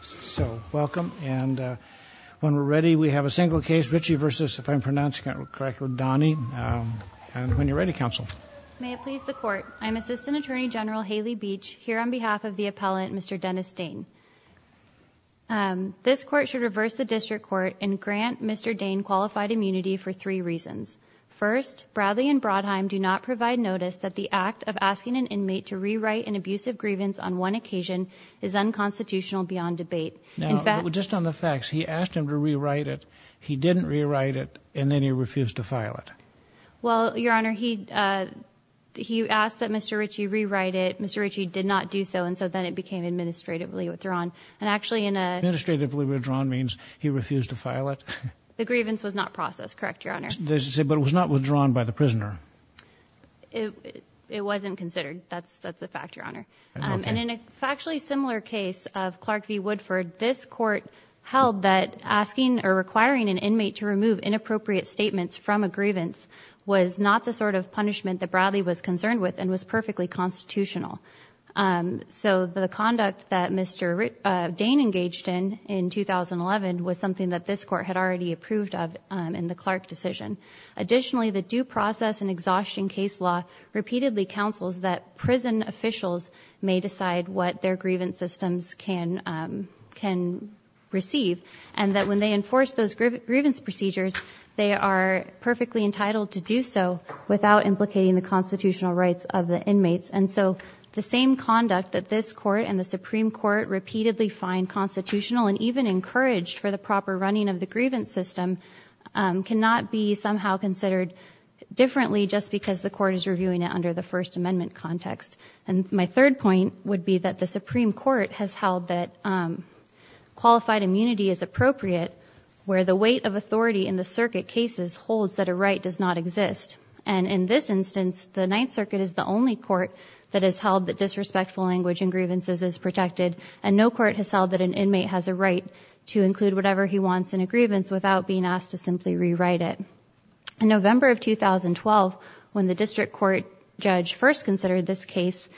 So welcome and when we're ready we have a single case Richey v. if I'm pronouncing it correctly, Dahne and when you're ready counsel. May it please the court I'm Assistant Attorney General Haley Beach here on behalf of the appellant Mr. Dennis Dane. This court should reverse the district court and grant Mr. Dane qualified immunity for three reasons. First, Bradley and Brodheim do not provide notice that the act of asking an inmate to rewrite an occasion is unconstitutional beyond debate. Now just on the facts he asked him to rewrite it he didn't rewrite it and then he refused to file it. Well your honor he he asked that Mr. Richey rewrite it Mr. Richey did not do so and so then it became administratively withdrawn and actually in a... Administratively withdrawn means he refused to file it? The grievance was not processed correct your honor. But it was not withdrawn by the prisoner? It is a factually similar case of Clark v. Woodford. This court held that asking or requiring an inmate to remove inappropriate statements from a grievance was not the sort of punishment that Bradley was concerned with and was perfectly constitutional. So the conduct that Mr. Dane engaged in in 2011 was something that this court had already approved of in the Clark decision. Additionally the due process and exhaustion case law repeatedly counsels that prison officials may decide what their grievance systems can can receive and that when they enforce those grievance procedures they are perfectly entitled to do so without implicating the constitutional rights of the inmates and so the same conduct that this court and the Supreme Court repeatedly find constitutional and even encouraged for the proper running of the grievance system cannot be somehow considered differently just because the first amendment context and my third point would be that the Supreme Court has held that qualified immunity is appropriate where the weight of authority in the circuit cases holds that a right does not exist and in this instance the Ninth Circuit is the only court that has held that disrespectful language and grievances is protected and no court has held that an inmate has a right to include whatever he wants in a grievance without being asked to simply rewrite it. In November of 2012 when the district court judge first considered this case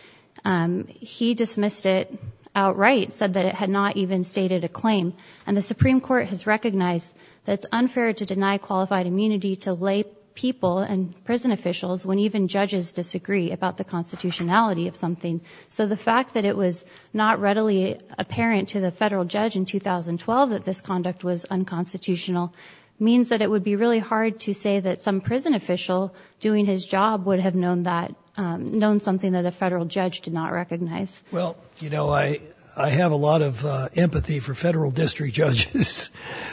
he dismissed it outright said that it had not even stated a claim and the Supreme Court has recognized that it's unfair to deny qualified immunity to lay people and prison officials when even judges disagree about the constitutionality of something so the fact that it was not readily apparent to the federal judge in 2012 that this conduct was unconstitutional means that it would be really hard to say that some prison official doing his job would have known that known something that a federal judge did not recognize. Well you know I I have a lot of empathy for federal district judges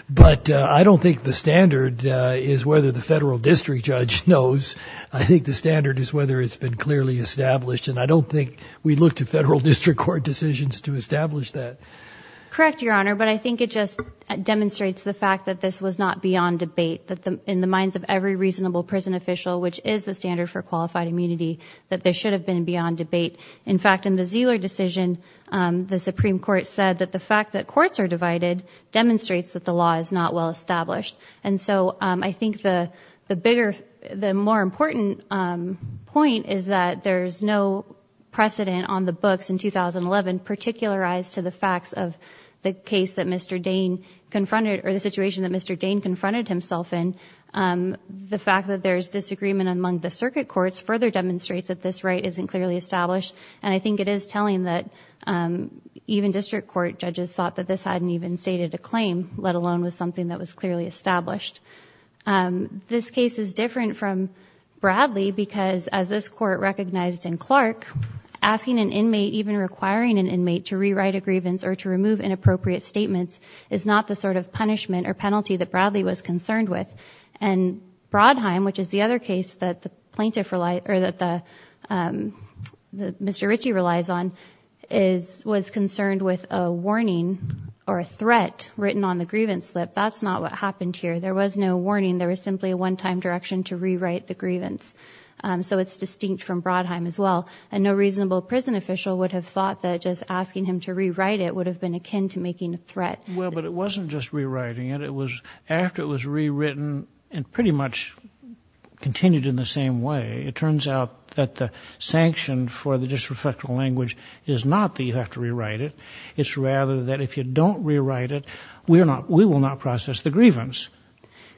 but I don't think the standard is whether the federal district judge knows I think the standard is whether it's been clearly established and I don't think we look to federal district court decisions to establish that. Correct your honor but I in the minds of every reasonable prison official which is the standard for qualified immunity that there should have been beyond debate in fact in the Zeller decision the Supreme Court said that the fact that courts are divided demonstrates that the law is not well established and so I think the the bigger the more important point is that there's no precedent on the books in 2011 particular eyes to the facts of the case that Mr. Dane confronted or the the fact that there's disagreement among the circuit courts further demonstrates that this right isn't clearly established and I think it is telling that even district court judges thought that this hadn't even stated a claim let alone was something that was clearly established. This case is different from Bradley because as this court recognized in Clark asking an inmate even requiring an inmate to rewrite a grievance or to remove inappropriate statements is not the sort of punishment or penalty that Bradley was concerned with and Brodheim which is the other case that the plaintiff relied or that the Mr. Ritchie relies on is was concerned with a warning or a threat written on the grievance slip that's not what happened here there was no warning there was simply a one-time direction to rewrite the grievance so it's distinct from Brodheim as well and no reasonable prison official would have thought that just asking him to rewrite it would have been akin to making a threat. Well but it was rewritten and pretty much continued in the same way it turns out that the sanction for the disreflective language is not that you have to rewrite it it's rather that if you don't rewrite it we're not we will not process the grievance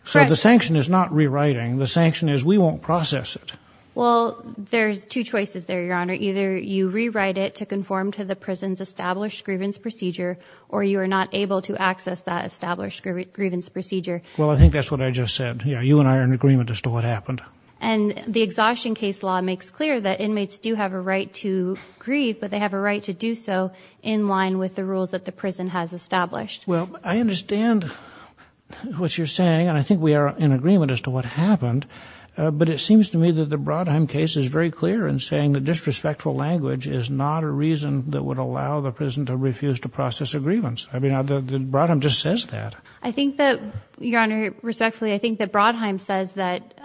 so the sanction is not rewriting the sanction is we won't process it. Well there's two choices there your honor either you rewrite it to conform to the prison's established grievance procedure or you are not able to access that established grievance procedure. Well I think that's what I just said you know you and I are in agreement as to what happened. And the exhaustion case law makes clear that inmates do have a right to grieve but they have a right to do so in line with the rules that the prison has established. Well I understand what you're saying and I think we are in agreement as to what happened but it seems to me that the Brodheim case is very clear in saying the disrespectful language is not a reason that would Brodheim just says that. I think that your honor respectfully I think that Brodheim says that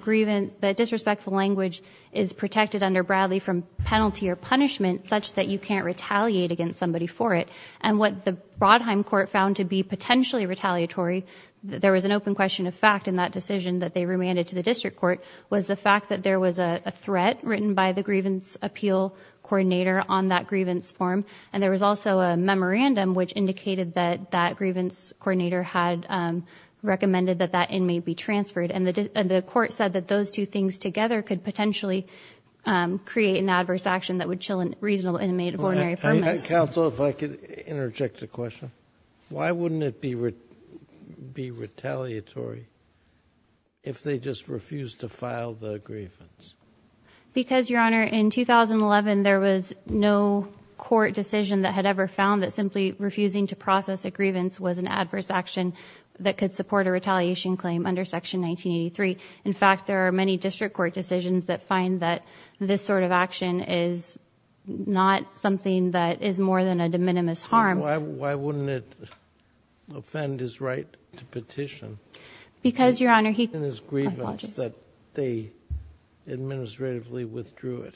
grievant that disrespectful language is protected under Bradley from penalty or punishment such that you can't retaliate against somebody for it and what the Brodheim court found to be potentially retaliatory there was an open question of fact in that decision that they remanded to the district court was the fact that there was a threat written by the grievance appeal coordinator on that grievance form and there was also a that grievance coordinator had recommended that that in may be transferred and the court said that those two things together could potentially create an adverse action that would chill and reasonable inmate of ordinary council if I could interject a question why wouldn't it be would be retaliatory if they just refused to file the grievance because your honor in 2011 there was no court decision that had ever found that simply refusing to process a grievance was an adverse action that could support a retaliation claim under section 1983 in fact there are many district court decisions that find that this sort of action is not something that is more than a de minimis harm why wouldn't it offend his right to petition because your honor he and his grievance that they administratively withdrew it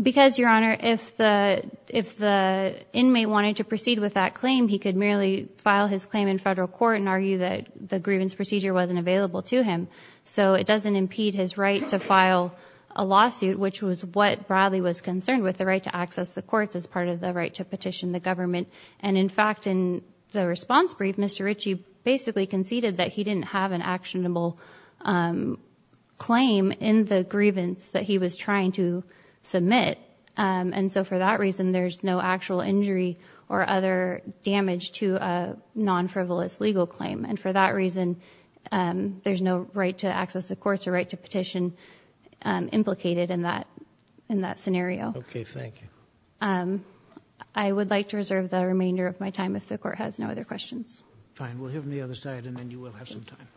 because your honor if the if the inmate wanted to proceed with that claim he could merely file his claim in federal court and argue that the grievance procedure wasn't available to him so it doesn't impede his right to file a lawsuit which was what Bradley was concerned with the right to access the courts as part of the right to petition the government and in fact in the response brief mr. Ritchie basically conceded that he didn't have an actionable claim in the grievance that he was trying to submit and so for that reason there's no actual injury or other damage to a non-frivolous legal claim and for that reason there's no right to access the courts or right to petition implicated in that in that scenario okay thank you I would like to reserve the remainder of my time if the court has no other questions fine we'll hear from the other side and then you will have some time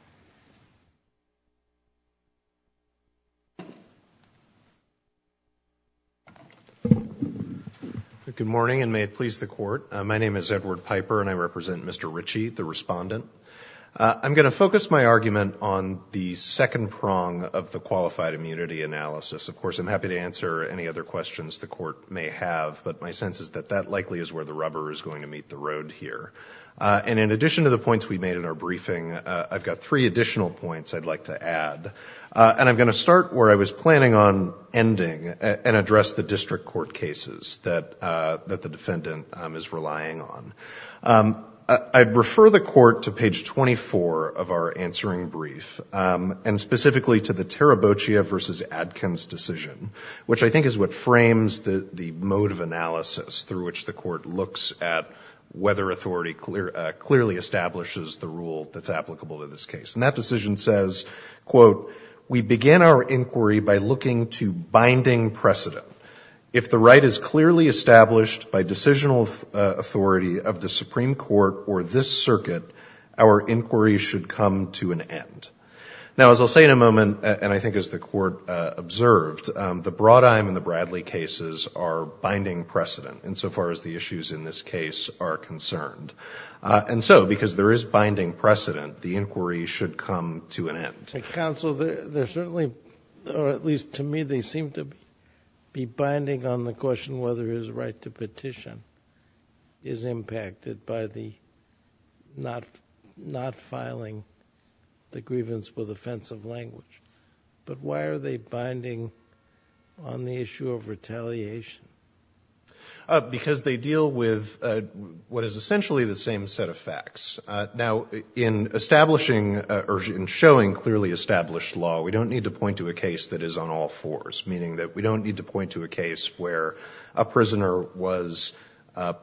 you good morning and may it please the court my name is Edward Piper and I represent mr. Ritchie the respondent I'm going to focus my argument on the second prong of the qualified immunity analysis of course I'm happy to answer any other questions the court may have but my sense is that that likely is where the rubber is going to meet the road here and in addition to the points we made in our briefing I've got three additional points I'd like to add and I'm going to be planning on ending and address the district court cases that that the defendant is relying on I'd refer the court to page 24 of our answering brief and specifically to the Tarabochia versus Adkins decision which I think is what frames the the mode of analysis through which the court looks at whether authority clear clearly establishes the rule that's applicable to this case and that decision says quote we begin our inquiry by looking to binding precedent if the right is clearly established by decisional authority of the Supreme Court or this circuit our inquiry should come to an end now as I'll say in a moment and I think as the court observed the broad I'm in the Bradley cases are binding precedent insofar as the issues in this case are concerned and so because there is binding precedent the inquiry should come to an end council there certainly or at least to me they seem to be binding on the question whether his right to petition is impacted by the not not filing the grievance with offensive language but why are they binding on the issue of retaliation because they deal with what is essentially the same set of facts now in establishing urgent showing clearly established law we don't need to point to a case that is on all fours meaning that we don't need to point to a case where a prisoner was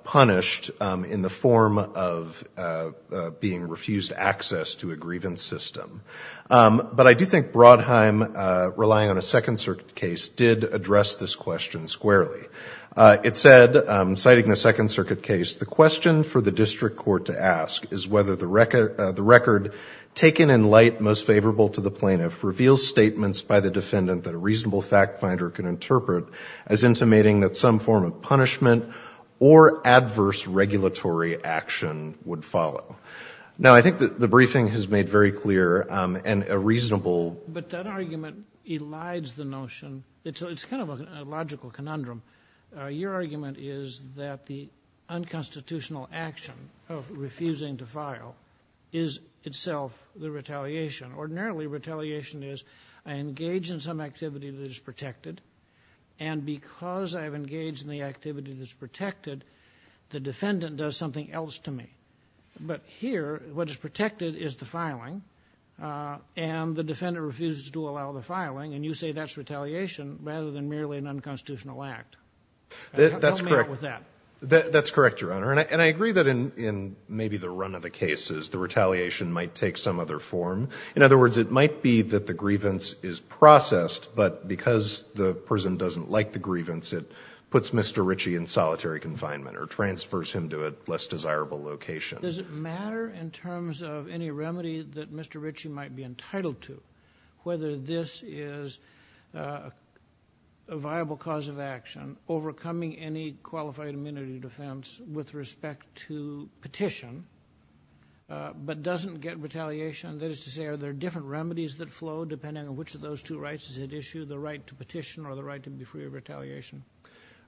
punished in the form of being refused access to a grievance system but I do think Brodheim relying on a Second Circuit case did address this question squarely it said citing the Second Circuit case the question for the district court to ask is whether the record the record taken in light most favorable to the plaintiff reveals statements by the defendant that a reasonable fact finder can interpret as intimating that some form of punishment or adverse regulatory action would follow now I think that the briefing has your argument is that the unconstitutional action of refusing to file is itself the retaliation ordinarily retaliation is I engage in some activity that is protected and because I've engaged in the activity that's protected the defendant does something else to me but here what is protected is the filing and the defender refused to allow the filing and you say that's retaliation rather than merely an unconstitutional act that's correct with that that's correct your honor and I and I agree that in in maybe the run of the case is the retaliation might take some other form in other words it might be that the grievance is processed but because the prison doesn't like the grievance it puts mr. Ritchie in solitary confinement or transfers him to a less desirable location does it matter in terms of any remedy that mr. Ritchie might be entitled to whether this is a viable cause of action overcoming any qualified immunity defense with respect to petition but doesn't get retaliation that is to say are there different remedies that flow depending on which of those two rights is it issue the right to petition or the right to be free of retaliation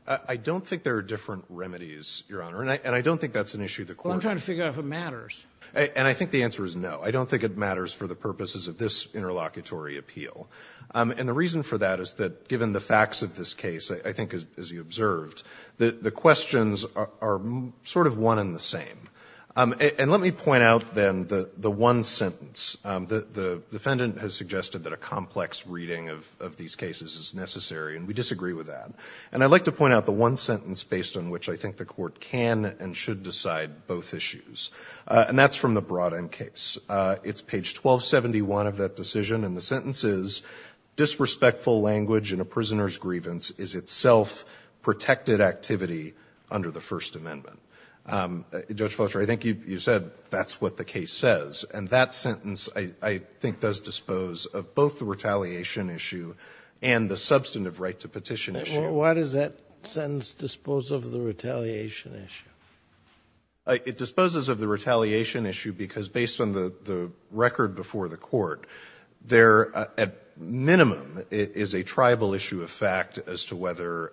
I don't think there are different remedies your honor and I and I don't think that's an issue the court I'm trying to figure out if it matters and I think the answer is no I don't think it matters for the purposes of this interlocutory appeal and the reason for that is that given the facts of this case I think as you observed that the questions are sort of one in the same and let me point out then the the one sentence that the defendant has suggested that a complex reading of these cases is necessary and we disagree with that and I'd like to point out the one sentence based on which I think the court can and that's from the broad-end case it's page 1271 of that decision and the sentence is disrespectful language in a prisoner's grievance is itself protected activity under the First Amendment judge Foster I think you said that's what the case says and that sentence I think does dispose of both the retaliation issue and the substantive right to petition issue what is that sentence dispose of the retaliation issue it disposes of the retaliation issue because based on the the record before the court there at minimum it is a tribal issue of fact as to whether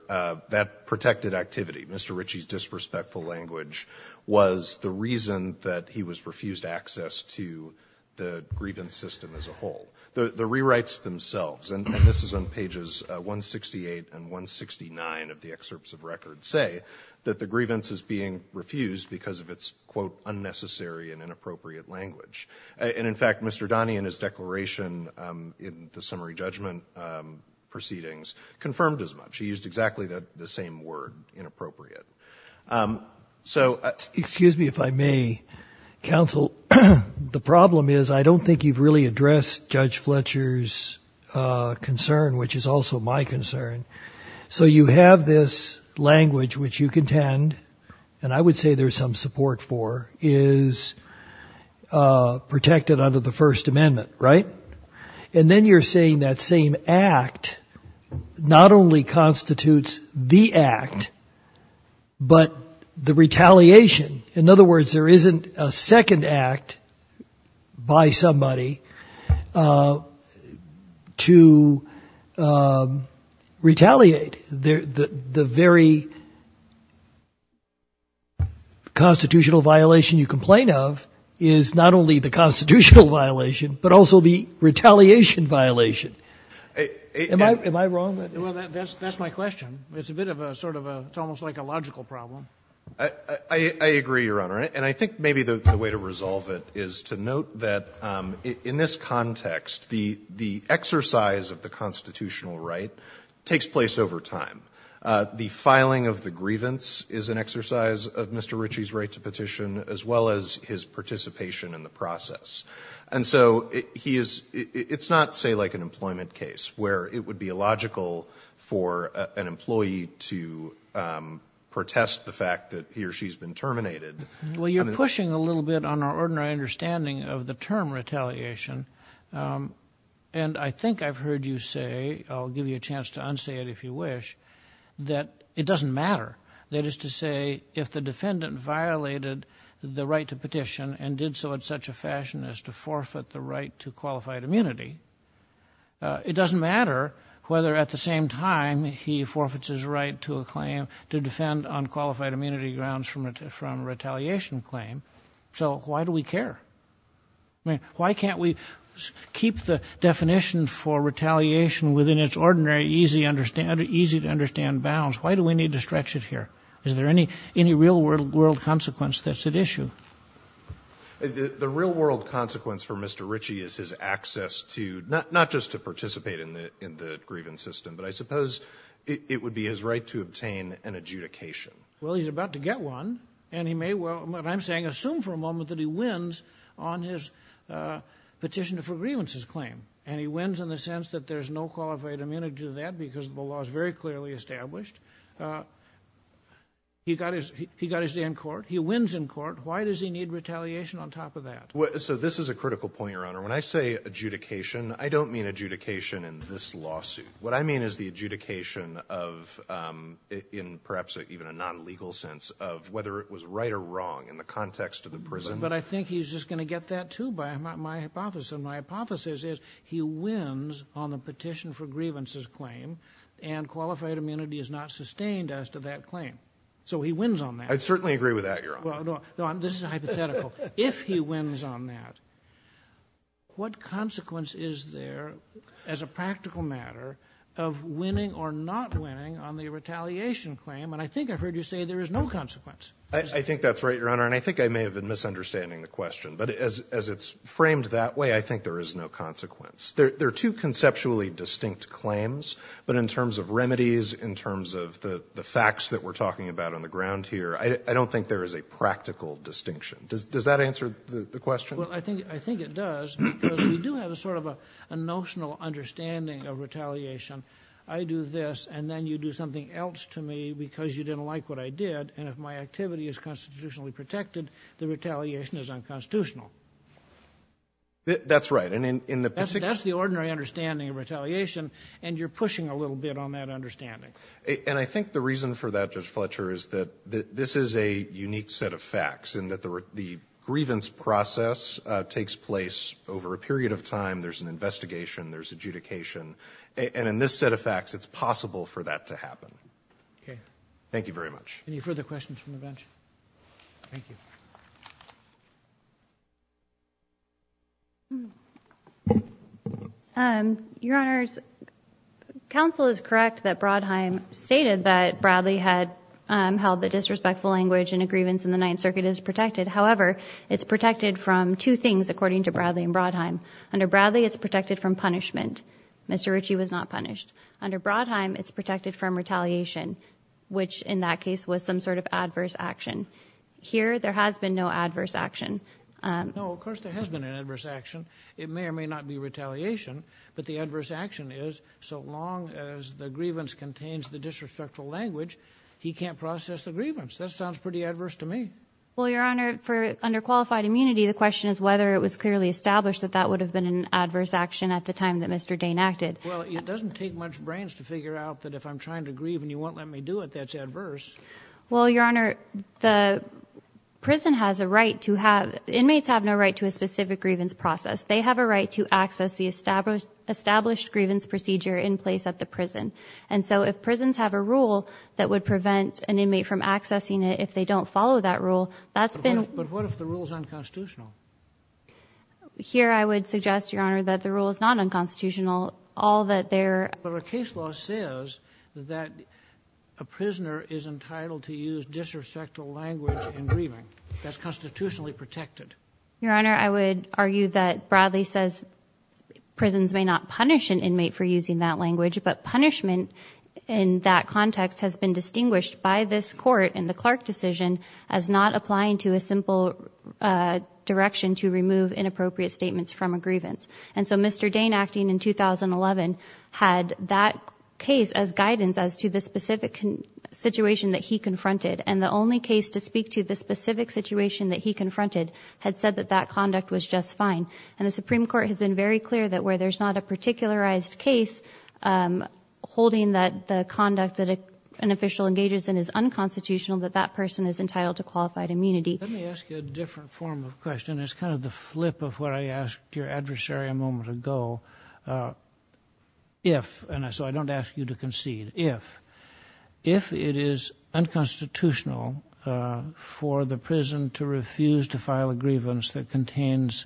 that protected activity mr. Ritchie's disrespectful language was the reason that he was refused access to the grievance system as a whole the the rewrites themselves and this is on pages 168 and 169 of the excerpts of record say that the grievance is being refused because of its quote unnecessary and inappropriate language and in fact mr. Donnie and his declaration in the summary judgment proceedings confirmed as much he used exactly that the same word inappropriate so excuse me if I may counsel the problem is I don't think you've really addressed judge Fletcher's concern which is also my concern so you have this language that which you contend and I would say there's some support for is protected under the First Amendment right and then you're saying that same act not only constitutes the act but the retaliation in other words there isn't a second act by somebody to retaliate there the very constitutional violation you complain of is not only the constitutional violation but also the retaliation violation my wrong that's my question it's a bit of a sort of a it's almost like a logical problem I agree your honor and I think maybe the way to resolve it is to note that in this context the the exercise of the constitutional right takes place over time the filing of the grievance is an exercise of mr. Ritchie's right to petition as well as his participation in the process and so he is it's not say where it would be a logical for an employee to protest the fact that he or she's been terminated well you're pushing a little bit on our understanding of the term retaliation and I think I've heard you say I'll give you a chance to unsay it if you wish that it doesn't matter that is to say if the defendant violated the right to petition and did so in such a fashion as to forfeit the right to qualified immunity it doesn't matter whether at the same time he forfeits his right to a claim to defend unqualified immunity grounds from it from retaliation claim so why do we care I mean why can't we keep the definition for retaliation within its ordinary easy understand easy to understand bounds why do we need to stretch it here is there any any real world consequence that's at issue the real-world consequence for mr. Ritchie is his access to not just to participate in the in the grievance system but I suppose it would be his right to obtain an adjudication well he's about to get one and he may well but I'm saying assume for a moment that he wins on his petition to for grievances claim and he wins in the sense that there's no qualified immunity to that because the law is very clearly established he got his he got his day in why does he need retaliation on top of that well so this is a critical point your honor when I say adjudication I don't mean adjudication in this lawsuit what I mean is the adjudication of in perhaps even a non-legal sense of whether it was right or wrong in the context of the prison but I think he's just gonna get that too by my hypothesis my hypothesis is he wins on the petition for grievances claim and qualified immunity is not sustained as to that claim so he wins on that I'd certainly agree with that you're on this is a hypothetical if he wins on that what consequence is there as a practical matter of winning or not winning on the retaliation claim and I think I've heard you say there is no consequence I think that's right your honor and I think I may have been misunderstanding the question but as it's framed that way I think there is no consequence there are two conceptually distinct claims but in terms of remedies in terms of the the facts that we're talking about on the ground here I don't think there is a practical distinction does that answer the question I think I think it does we do have a sort of a notional understanding of retaliation I do this and then you do something else to me because you didn't like what I did and if my activity is constitutionally protected the retaliation is unconstitutional that's right and in the particular that's the ordinary understanding of retaliation and you're good on that understanding and I think the reason for that judge Fletcher is that this is a unique set of facts and that the the grievance process takes place over a period of time there's an investigation there's adjudication and in this set of facts it's possible for that to happen okay thank you very much any further questions from the bench your honors counsel is correct that Brodheim stated that Bradley had held the disrespectful language and a grievance in the Ninth Circuit is protected however it's protected from two things according to Bradley and Brodheim under Bradley it's protected from punishment mr. Ritchie was not punished under Brodheim it's protected from retaliation which in that case was some sort of adverse action here there has been no adverse action no of course there has been an adverse action it may or may not be retaliation but the adverse action is so long as the grievance contains the disrespectful language he can't process the grievance that sounds pretty adverse to me well your honor for under qualified immunity the question is whether it was clearly established that that would have been an adverse action at the time that mr. Dane acted well it doesn't take much brains to figure out that if I'm trying to well your honor the prison has a right to have inmates have no right to a specific grievance process they have a right to access the established established grievance procedure in place at the prison and so if prisons have a rule that would prevent an inmate from accessing it if they don't follow that rule that's been but what if the rules unconstitutional here I would suggest your honor that the rule is not unconstitutional all that there but a prisoner is entitled to use disrespectful language and grieving that's constitutionally protected your honor I would argue that Bradley says prisons may not punish an inmate for using that language but punishment in that context has been distinguished by this court in the Clark decision as not applying to a simple direction to remove inappropriate statements from a grievance and so mr. Dane acting in 2011 had that case as guidance as to the specific situation that he confronted and the only case to speak to the specific situation that he confronted had said that that conduct was just fine and the Supreme Court has been very clear that where there's not a particularized case holding that the conduct that an official engages in is unconstitutional that that person is entitled to qualified immunity it's kind of the flip of what I asked your adversary a moment ago if and so I don't ask you to concede if if it is unconstitutional for the prison to refuse to file a grievance that contains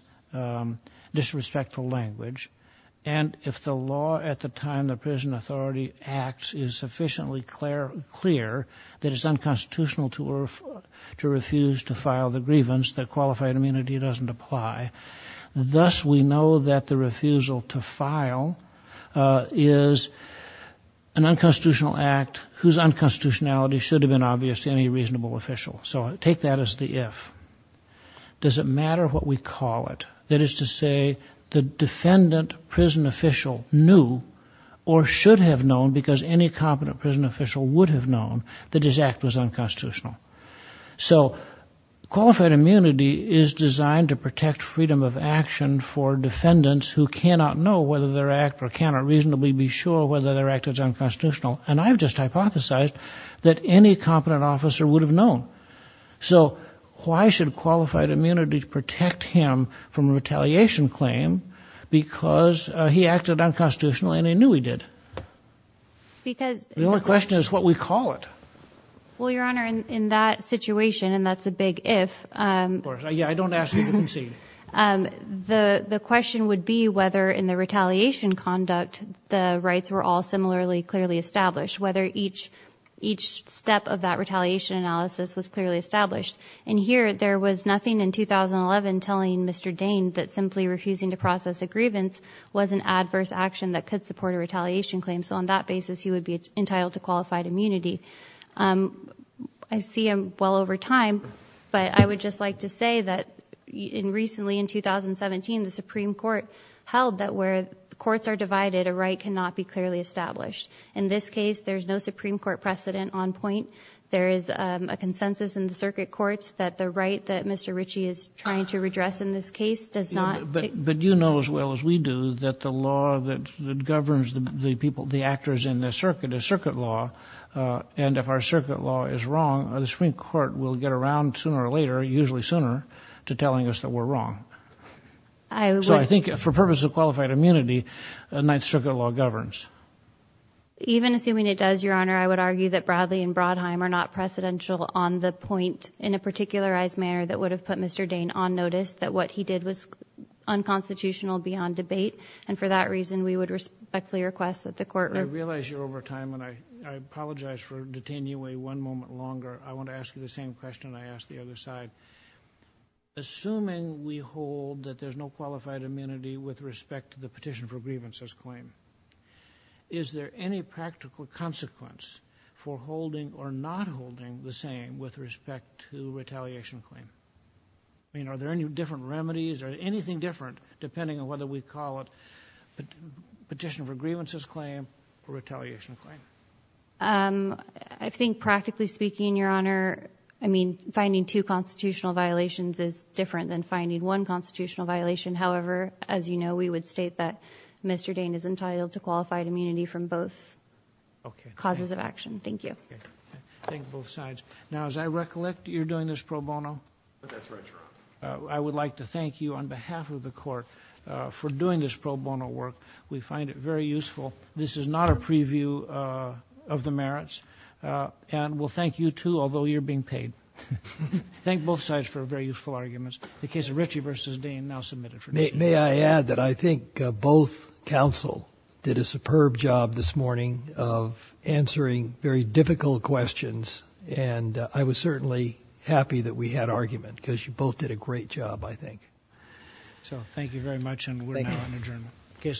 disrespectful language and if the law at the time the prison authority acts is sufficiently clear clear that it's unconstitutional to refer to refuse to file the grievance that qualified immunity doesn't apply thus we know that the refusal to file is an unconstitutional act whose unconstitutionality should have been obvious to any reasonable official so take that as the if does it matter what we call it that is to say the defendant prison official knew or should have known because any competent prison official would have known that his act was unconstitutional so qualified immunity is designed to protect freedom of action for defendants who cannot know whether their act or cannot reasonably be sure whether their act is unconstitutional and I've just hypothesized that any competent officer would have known so why should qualified immunity to protect him from retaliation claim because he acted unconstitutional and he knew he did because the only question is what we call it well your honor in that situation and that's a big if the the question would be whether in the retaliation conduct the rights were all similarly clearly established whether each each step of that retaliation analysis was clearly established and here there was nothing in 2011 telling mr. Dane that simply refusing to process a grievance was an adverse action that could support a retaliation claim so on that basis he would be entitled to qualified immunity I see him well over time but I would just like to say that in recently in 2017 the Supreme Court held that where the courts are divided a right cannot be clearly established in this case there's no Supreme Court precedent on point there is a consensus in the circuit courts that the right that mr. Ritchie is trying to redress in this case does not but but you know as well as we do that the law that governs the people the actors in the circuit is circuit law and if our circuit law is wrong the Supreme Court will get around sooner or later usually sooner to telling us that we're wrong I think for purposes of qualified immunity the Ninth Circuit law governs even assuming it does your honor I would argue that Bradley and Brodheim are not precedential on the point in a particularized manner that would have put mr. Dane on notice that what he did was unconstitutional beyond debate and for that reason we would respectfully request that the court realize you're over time and I apologize for detain you a one moment longer I want to ask you the same question I asked the other side assuming we hold that there's no qualified immunity with respect to the petition for grievances claim is there any practical consequence for holding or not holding the same with respect to retaliation claim I mean are there any different remedies or anything different depending on whether we call it the petition for grievances claim or retaliation claim I think practically speaking your honor I mean finding two constitutional violations is different than finding one constitutional violation however as you know we would state that mr. Dane is entitled to qualified immunity from both causes of action thank you both sides now as I recollect you're doing this pro bono I would like to thank you on behalf of the for doing this pro bono work we find it very useful this is not a preview of the merits and we'll thank you too although you're being paid thank both sides for very useful arguments the case of Richie versus Dane now submitted for me may I add that I think both counsel did a superb job this morning of answering very difficult questions and I was certainly happy that we had argument because you both did a great job I think so thank you very much and we're now an adjournment case submitted